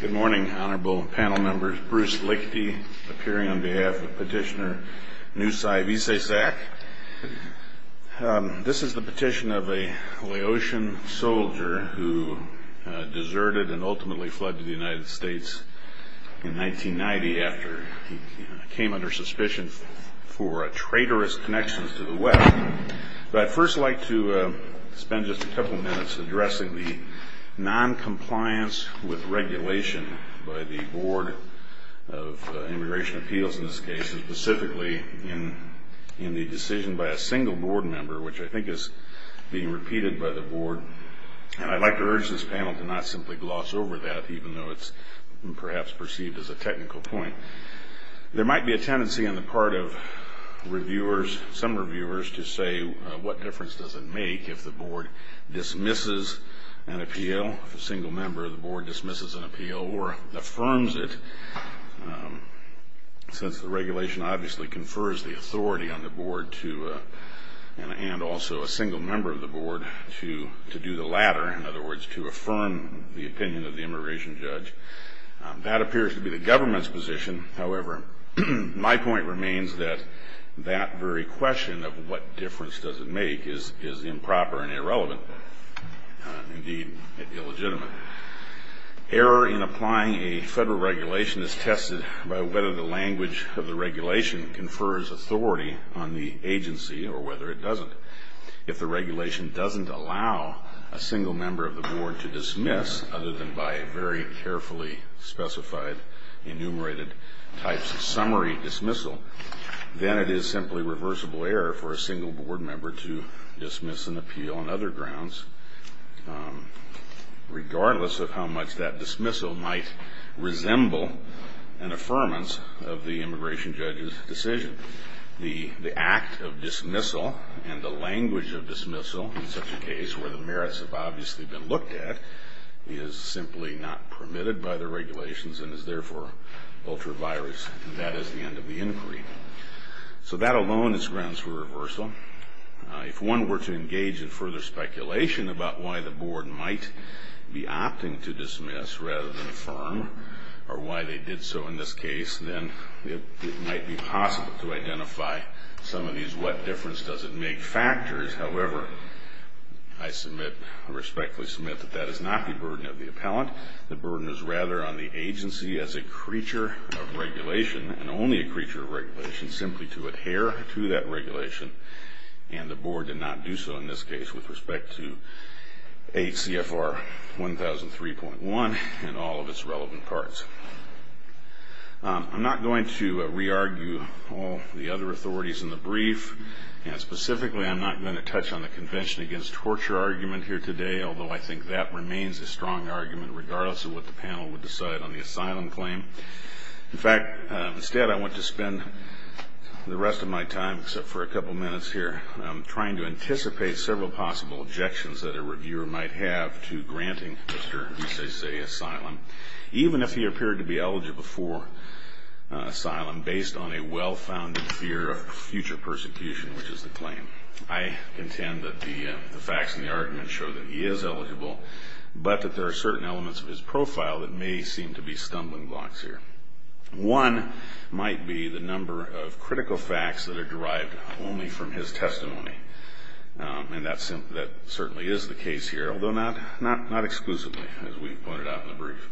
Good morning, Honorable Panel Members. Bruce Lickety appearing on behalf of Petitioner Nusai Vixaysack. This is the petition of a Laotian soldier who deserted and ultimately fled to the United States in 1990 after he came under suspicion for traitorous connections to the West. But I'd first like to spend just a couple of minutes addressing the noncompliance with regulation by the Board of Immigration Appeals in this case, and specifically in the decision by a single board member, which I think is being repeated by the board. And I'd like to urge this panel to not simply gloss over that, even though it's perhaps perceived as a technical point. There might be a tendency on the part of reviewers, some reviewers, to say, what difference does it make if the board dismisses an appeal, a single member of the board dismisses an appeal, or affirms it, since the regulation obviously confers the authority on the board to, and also a single member of the board, to do the latter, in other words, to affirm the opinion of the immigration judge. That appears to be the government's position. However, my point remains that that very question of what difference does it make is improper and irrelevant, indeed illegitimate. Error in applying a federal regulation is tested by whether the language of the regulation confers authority on the agency or whether it doesn't. If the regulation doesn't allow a single member of the board to dismiss, other than by a very carefully specified enumerated types of summary dismissal, then it is simply reversible error for a single board member to dismiss an appeal on other grounds, regardless of how much that dismissal might resemble an affirmance of the immigration judge's decision. The act of dismissal and the language of dismissal, in such a case where the merits have obviously been looked at, is simply not permitted by the regulations and is therefore ultra-virus, and that is the end of the inquiry. So that alone is grounds for reversal. If one were to engage in further speculation about why the board might be opting to dismiss rather than affirm, or why they did so in this case, then it might be possible to identify some of these what difference does it make factors. However, I submit, I respectfully submit, that that is not the burden of the appellant. The burden is rather on the agency as a creature of regulation, and only a creature of regulation, simply to adhere to that regulation, and the board did not do so in this case with respect to HCFR 1003.1 and all of its relevant parts. I'm not going to re-argue all the other authorities in the brief, and specifically I'm not going to touch on the convention against torture argument here today, although I think that remains a strong argument regardless of what the panel would decide on the asylum claim. In fact, instead, I want to spend the rest of my time, except for a couple minutes here, trying to anticipate several possible objections that a reviewer might have to granting Mr. Isese asylum, even if he appeared to be eligible for asylum based on a well-founded fear of future persecution, which is the claim. I intend that the facts in the argument show that he is eligible, but that there are certain elements of his profile that may seem to be stumbling blocks here. One might be the number of critical facts that are derived only from his testimony, and that certainly is the case here, although not exclusively, as we pointed out in the brief.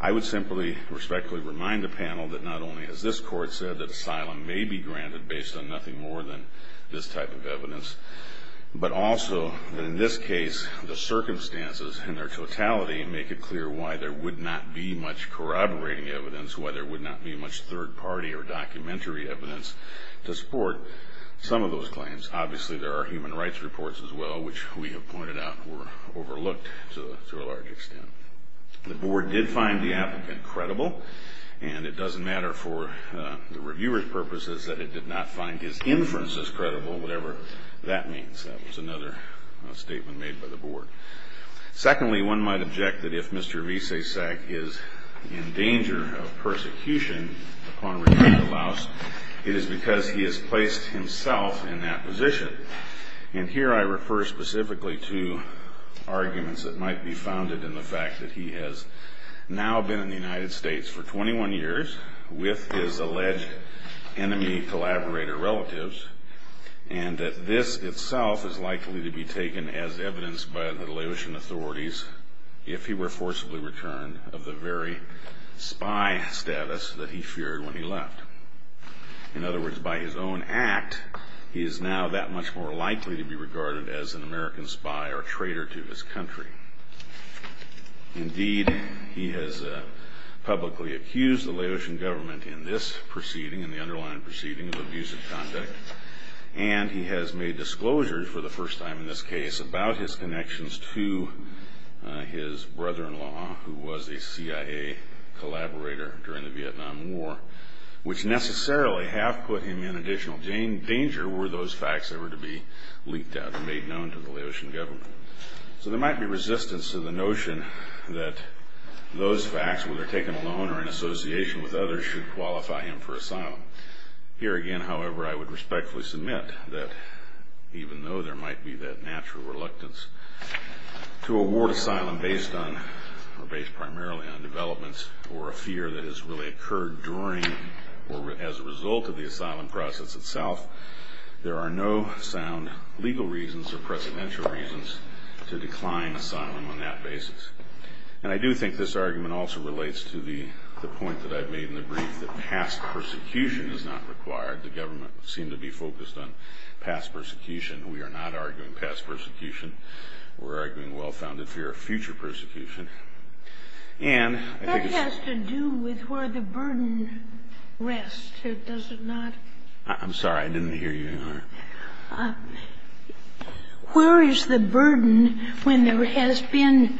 I would simply respectfully remind the panel that not only has this Court said that asylum may be granted based on nothing more than this type of evidence, but also, in this case, the circumstances in their totality make it clear why there would not be much corroborating evidence, why there would not be much third-party or documentary evidence to support some of those claims. Obviously, there are human rights reports as well, which we have pointed out were overlooked to a large extent. The Board did find the applicant credible, and it doesn't matter for the reviewer's purposes that it did not find his inferences credible, whatever that means. That was another statement made by the Board. Secondly, one might object that if Mr. Vizsasek is in danger of persecution upon return to Laos, it is because he has placed himself in that position. And here I refer specifically to arguments that might be founded in the fact that he has now been in the United States for 21 years with his alleged enemy-collaborator relatives, and that this itself is likely to be taken as evidence by the Laotian authorities if he were forcibly returned of the very spy status that he feared when he left. In other words, by his own act, he is now that much more likely to be regarded as an American spy or traitor to his country. Indeed, he has publicly accused the Laotian government in this proceeding, in the underlying proceeding of abusive conduct, and he has made disclosures for the first time in this case about his connections to his brother-in-law, who was a CIA collaborator during the Vietnam War, which necessarily have put him in additional danger were those facts ever to be leaked out and made known to the Laotian government. So there might be resistance to the notion that those facts, whether taken alone or in association with others, should qualify him for asylum. Here again, however, I would respectfully submit that even though there might be that natural reluctance to award asylum based primarily on developments or a fear that has really occurred during or as a result of the asylum process itself, there are no sound legal reasons or presidential reasons to decline asylum on that basis. And I do think this argument also relates to the point that I made in the brief that past persecution is not required. The government seemed to be focused on past persecution. We are not arguing past persecution. We're arguing well-founded fear of future persecution. And I think it's... With where the burden rests, or does it not? I'm sorry. I didn't hear you, Your Honor. Where is the burden when there has been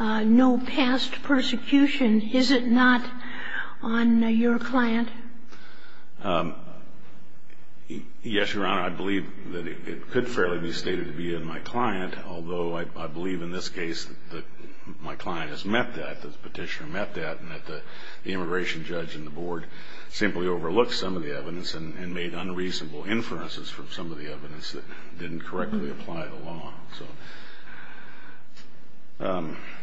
no past persecution? Is it not on your client? Yes, Your Honor. I believe that it could fairly be stated to be in my client, although I believe in this case that my client has met that, that the petitioner met that, and that the immigration judge and the board simply overlooked some of the evidence and made unreasonable inferences from some of the evidence that didn't correctly apply the law. So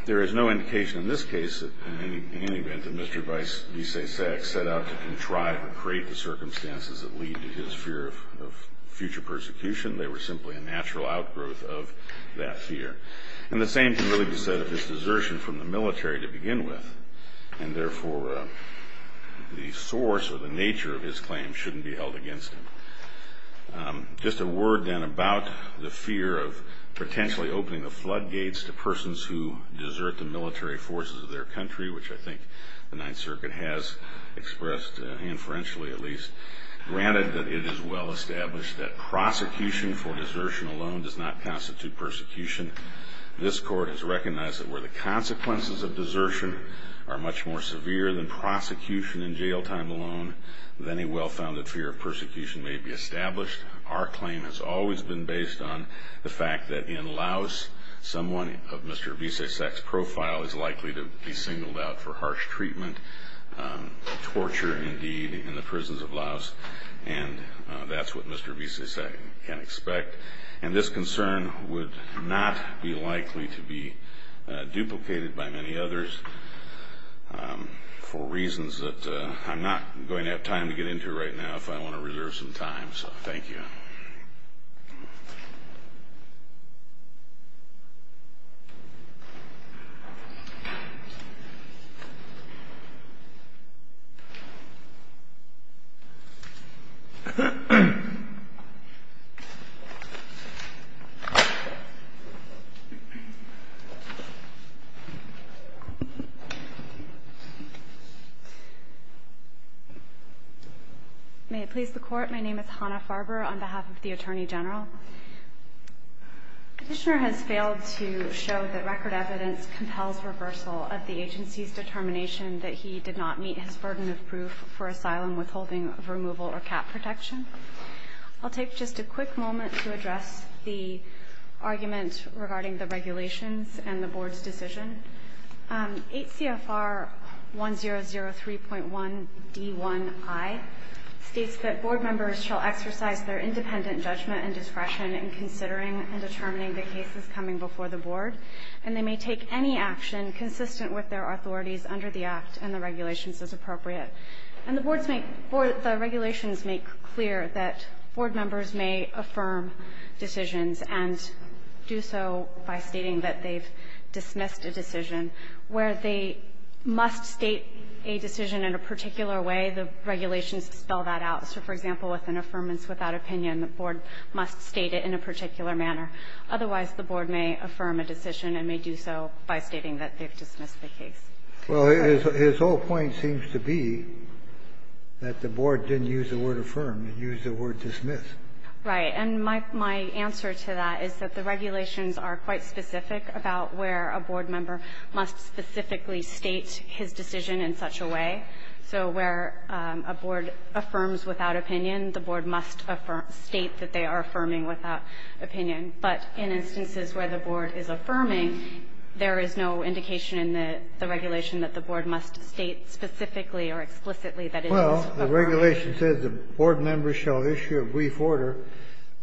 there is no indication in this case, in any event, that Mr. Vice V. Sasek set out to contrive or create the circumstances that lead to his fear of future persecution. They were simply a natural outgrowth of that fear. And the same can really be said of his desertion from the military to begin with, and therefore the source or the nature of his claim shouldn't be held against him. Just a word then about the fear of potentially opening the floodgates to persons who desert the military forces of their country, which I think the Ninth Circuit has expressed inferentially at least, granted that it is well established that prosecution for desertion alone does not constitute persecution. This Court has recognized that where the consequences of desertion are much more severe than prosecution in jail time alone, then a well-founded fear of persecution may be established. Our claim has always been based on the fact that in Laos someone of Mr. V. Sasek's profile is likely to be singled out for harsh treatment, torture indeed, in the prisons of Laos, and that's what Mr. V. Sasek can expect. And this concern would not be likely to be duplicated by many others for reasons that I'm not going to have time to get into right now if I want to reserve some time, so thank you. HANNAH FARBER May it please the Court, my name is Hannah Farber on behalf of the Attorney General. The Petitioner has failed to show that record evidence compels reversal of the statute, and he did not meet his burden of proof for asylum withholding, removal or cap protection. I'll take just a quick moment to address the argument regarding the regulations and the Board's decision. 8 CFR 1003.1d1i states that Board members shall exercise their independent judgment and discretion in considering and determining the cases coming before the Board, and they may take any action consistent with their authorities under the Act and the regulations as appropriate. And the Board's make the regulations make clear that Board members may affirm decisions and do so by stating that they've dismissed a decision, where they must state a decision in a particular way, the regulations spell that out. So, for example, with an affirmance without opinion, the Board must state it in a particular manner. Otherwise, the Board may affirm a decision and may do so by stating that they've dismissed the case. Well, his whole point seems to be that the Board didn't use the word affirm. It used the word dismiss. Right. And my answer to that is that the regulations are quite specific about where a Board member must specifically state his decision in such a way. So where a Board affirms without opinion, the Board must affirm or state that they are affirming without opinion. But in instances where the Board is affirming, there is no indication in the regulation that the Board must state specifically or explicitly that it is affirming. Well, the regulation says the Board members shall issue a brief order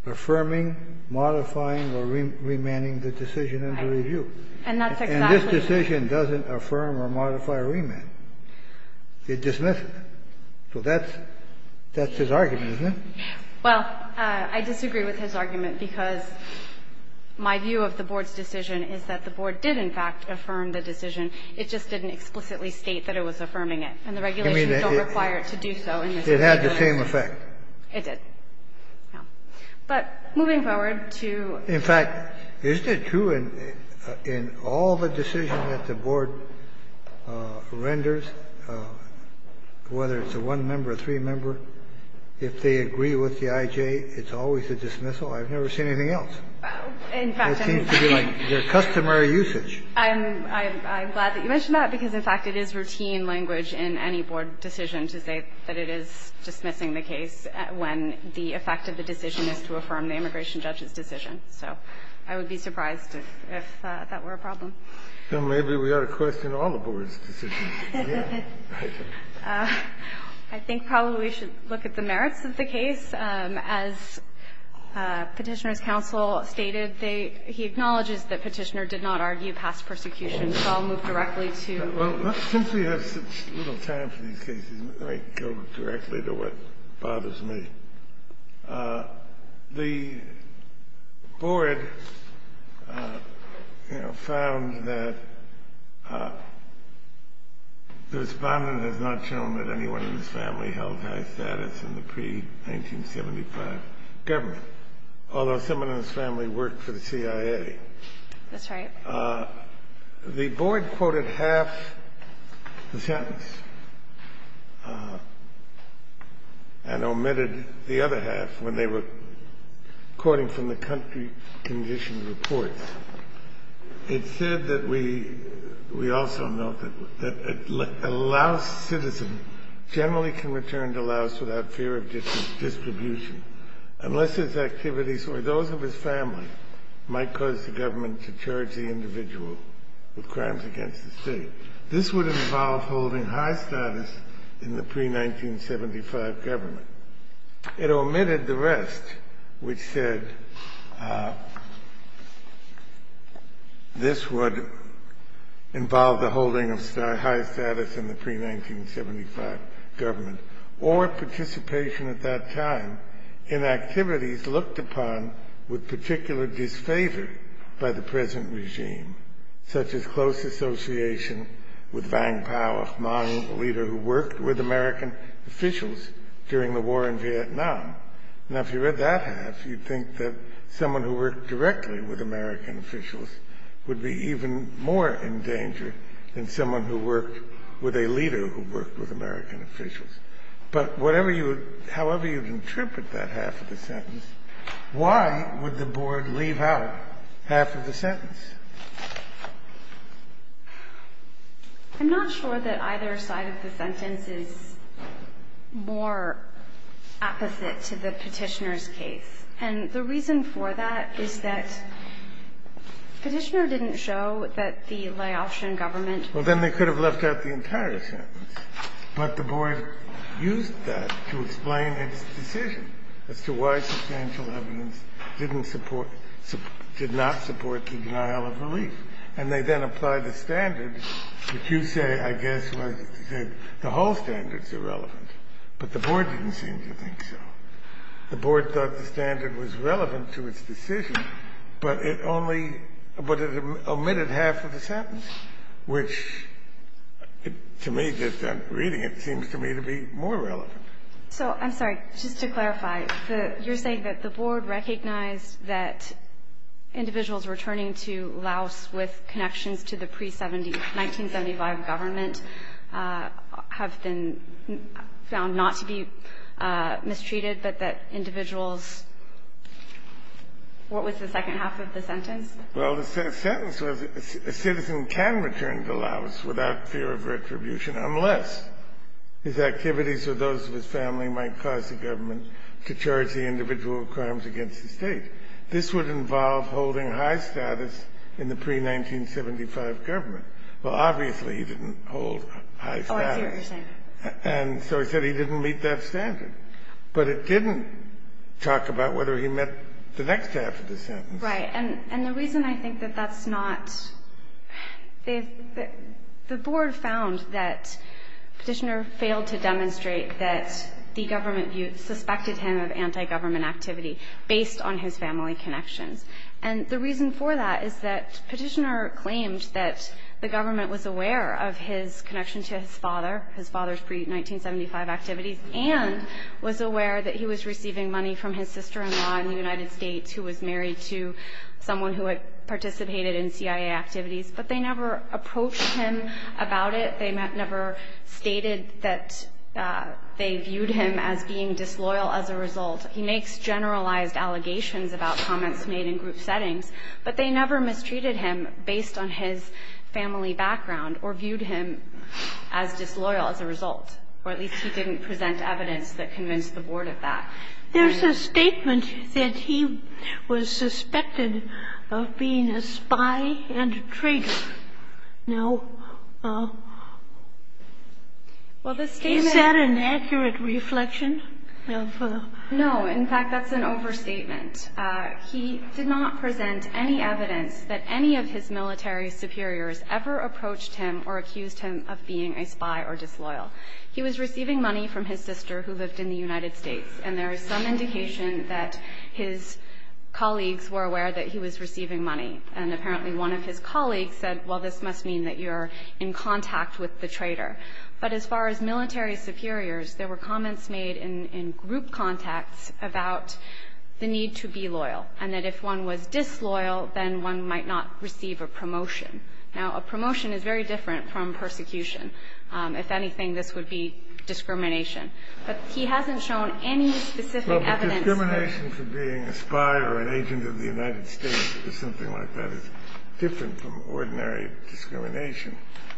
affirming, modifying, or remanding the decision under review. And that's exactly right. And this decision doesn't affirm or modify or remand. It dismisses. So that's his argument, isn't it? Well, I disagree with his argument, because my view of the Board's decision is that the Board did, in fact, affirm the decision. It just didn't explicitly state that it was affirming it. And the regulations don't require it to do so in this case. It had the same effect. But moving forward to the next point. In fact, isn't it true in all the decisions that the Board renders, whether it's a one-member, a three-member, if they agree with the I.J., it's always a dismissal? I've never seen anything else. It seems to be like their customary usage. I'm glad that you mentioned that, because, in fact, it is routine language in any Board decision to say that it is dismissing the case when the effect of the decision is to affirm the immigration judge's decision. So I would be surprised if that were a problem. Well, maybe we ought to question all the Board's decisions. I think probably we should look at the merits of the case. As Petitioner's counsel stated, he acknowledges that Petitioner did not argue past persecution. So I'll move directly to the next point. Well, since we have such little time for these cases, let me go directly to what bothers me. The Board found that the Respondent has not shown that anyone in his family held high status in the pre-1975 government, although someone in his family worked for the CIA. That's right. The Board quoted half the sentence and omitted the other half when they were quoting from the country condition reports. It said that we also note that a Laos citizen generally can return to Laos without fear of distribution unless his activities or those of his family might cause the government to charge the individual with crimes against the state. This would involve holding high status in the pre-1975 government. It omitted the rest, which said this would involve the holding of high status in the pre-1975 government or participation at that time in activities looked upon with particular disfavor by the present regime, such as close association with Vang Pao, a Hmong leader who worked with American officials during the war in Vietnam. Now, if you read that half, you'd think that someone who worked directly with American officials would be even more in danger than someone who worked with a leader who worked with American officials. But whatever you would – however you would interpret that half of the sentence, why would the Board leave out half of the sentence? I'm not sure that either side of the sentence is more opposite to the Petitioner's case. And the reason for that is that Petitioner didn't show that the Laotian government could have left out the entire sentence. Well, then they could have left out the entire sentence, but the Board used that to explain its decision as to why substantial evidence didn't support – did not support the denial of relief. And they then applied the standard, which you say, I guess, was that the whole standard is irrelevant, but the Board didn't seem to think so. The Board thought the standard was relevant to its decision, but it only – but it omitted half of the sentence, which to me, just reading it, seems to me to be more relevant. So I'm sorry, just to clarify, you're saying that the Board recognized that individuals returning to Laos with connections to the pre-1975 government have been found not to be mistreated, but that individuals – what was the second half of the sentence? Well, the sentence was a citizen can return to Laos without fear of retribution unless his activities or those of his family might cause the government to charge the individual with crimes against the State. This would involve holding high status in the pre-1975 government. Well, obviously, he didn't hold high status. Oh, I see what you're saying. And so he said he didn't meet that standard. But it didn't talk about whether he met the next half of the sentence. Right. And the reason I think that that's not – the Board found that Petitioner failed to demonstrate that the government suspected him of anti-government activity based on his family connections. And the reason for that is that Petitioner claimed that the government was aware of his connection to his father, his father's pre-1975 activities, and was aware that he was receiving money from his sister-in-law in the United States who was married to someone who had participated in CIA activities, but they never approached him about it. They never stated that they viewed him as being disloyal as a result. He makes generalized allegations about comments made in group settings, but they never mistreated him based on his family background or viewed him as disloyal as a result, or at least he didn't present evidence that convinced the Board of that. There's a statement that he was suspected of being a spy and a traitor. Now, well, the statement – Is that an accurate reflection of – No. In fact, that's an overstatement. He did not present any evidence that any of his military superiors ever approached him or accused him of being a spy or disloyal. He was receiving money from his sister who lived in the United States, and there is some indication that his colleagues were aware that he was receiving money, and apparently one of his colleagues said, well, this must mean that you're in contact with the traitor. But as far as military superiors, there were comments made in group contacts about the need to be loyal and that if one was disloyal, then one might not receive a promotion. Now, a promotion is very different from persecution. If anything, this would be discrimination. But he hasn't shown any specific evidence that – Well, but discrimination for being a spy or an agent of the United States or something like that is different from ordinary discrimination.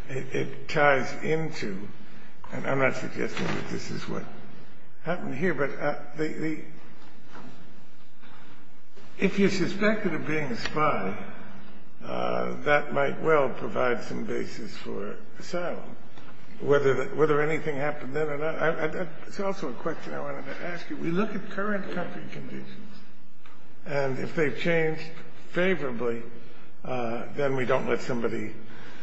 It ties into – and I'm not suggesting that this is what happened here, but if you're suspected of being a spy, that might well provide some basis for asylum, whether anything happened then or not. It's also a question I wanted to ask you. We look at current country conditions, and if they've changed favorably, then we don't let somebody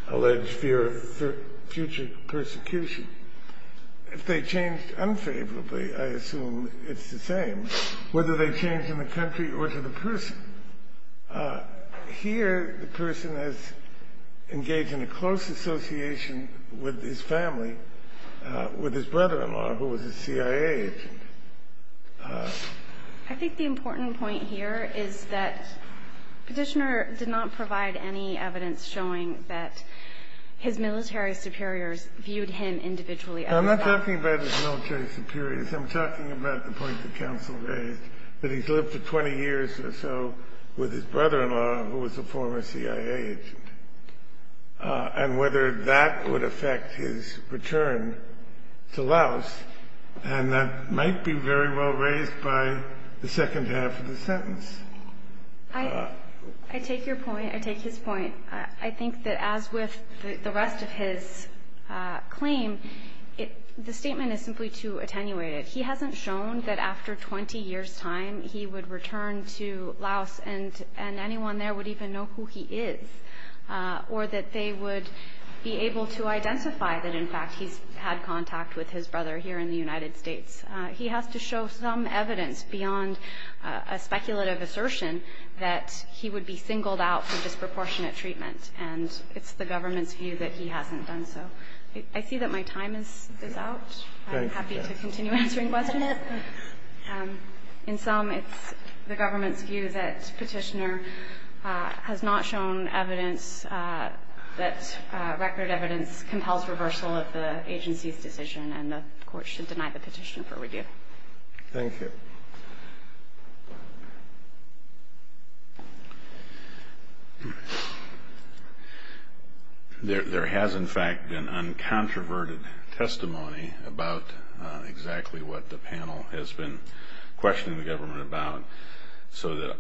allege fear of future persecution. If they've changed unfavorably, I assume it's the same, whether they've changed in the country or to the person. Here, the person has engaged in a close association with his family, with his brother-in-law, who was a CIA agent. I think the important point here is that Petitioner did not provide any evidence showing that his military superiors viewed him individually as a spy. I'm not talking about his military superiors. I'm talking about the point that counsel raised, that he's lived for 20 years or so with his brother-in-law, who was a former CIA agent, and whether that would affect his return to Laos. And that might be very well raised by the second half of the sentence. I take your point. I take his point. I think that as with the rest of his claim, the statement is simply too attenuated. He hasn't shown that after 20 years' time, he would return to Laos, and anyone there would even know who he is, or that they would be able to identify that, in fact, he's had contact with his brother here in the United States. He has to show some evidence beyond a speculative assertion that he would be singled out for disproportionate treatment, and it's the government's view that he hasn't done so. I see that my time is out. I'm happy to continue answering questions. In sum, it's the government's view that Petitioner has not shown evidence that record evidence compels reversal of the agency's decision, and the Court should deny the petition for review. Thank you. There has, in fact, been uncontroverted testimony about exactly what the panel has been questioning the government about, so that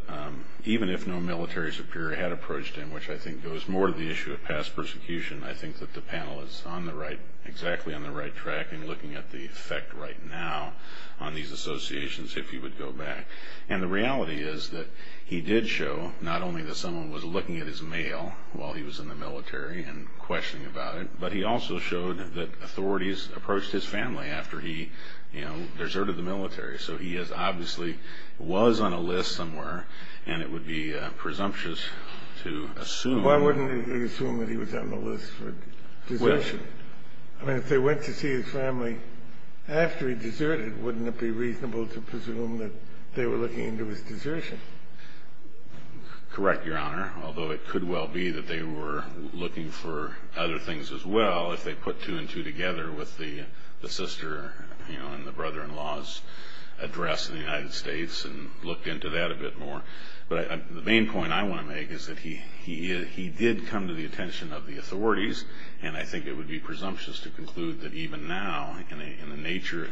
even if no military superior had approached him, which I think goes more to the issue of past persecution, I think that the panel is on the right, exactly on the right track in looking at the effect right now on these associations if he would go back. And the reality is that he did show not only that someone was looking at his mail while he was in the military and questioning about it, but he also showed that authorities approached his family after he deserted the military. So he obviously was on a list somewhere, and it would be presumptuous to assume. Why wouldn't they assume that he was on the list for desertion? I mean, if they went to see his family after he deserted, wouldn't it be reasonable to presume that they were looking into his desertion? Correct, Your Honor, although it could well be that they were looking for other things as well if they put two and two together with the sister and the brother-in-law's address in the United States and looked into that a bit more. But the main point I want to make is that he did come to the attention of the authorities, and I think it would be presumptuous to conclude that even now, in the nature,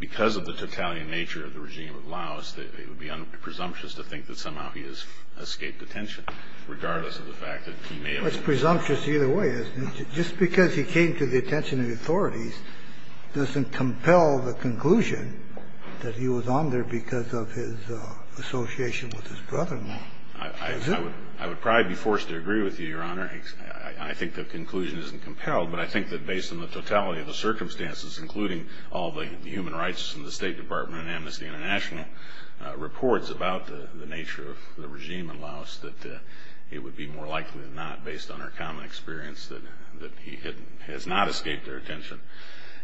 because of the totalitarian nature of the regime of Laos, it would be presumptuous to think that somehow he has escaped detention, regardless of the fact that he may have... Well, it's presumptuous either way, isn't it? Just because he came to the attention of the authorities doesn't compel the conclusion that he was on there because of his association with his brother-in-law. I would probably be forced to agree with you, Your Honor. I think the conclusion isn't compelled, but I think that based on the totality of the circumstances, including all the human rights from the State Department and Amnesty International reports about the nature of the regime in Laos, that it would be more likely than not, based on our common experience, that he has not escaped their attention.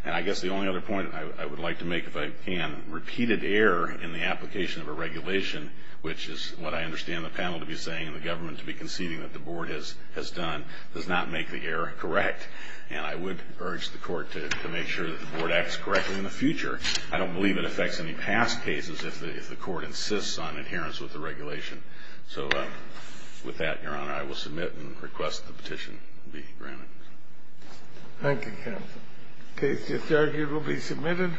And I guess the only other point I would like to make, if I can, repeated error in the application of a regulation, which is what I understand the panel to be saying and the government to be conceding that the Board has done, does not make the error correct. And I would urge the Court to make sure that the Board acts correctly in the future. I don't believe it affects any past cases if the Court insists on adherence with the regulation. So with that, Your Honor, I will submit and request the petition be granted. Thank you, counsel. Case disargued will be submitted.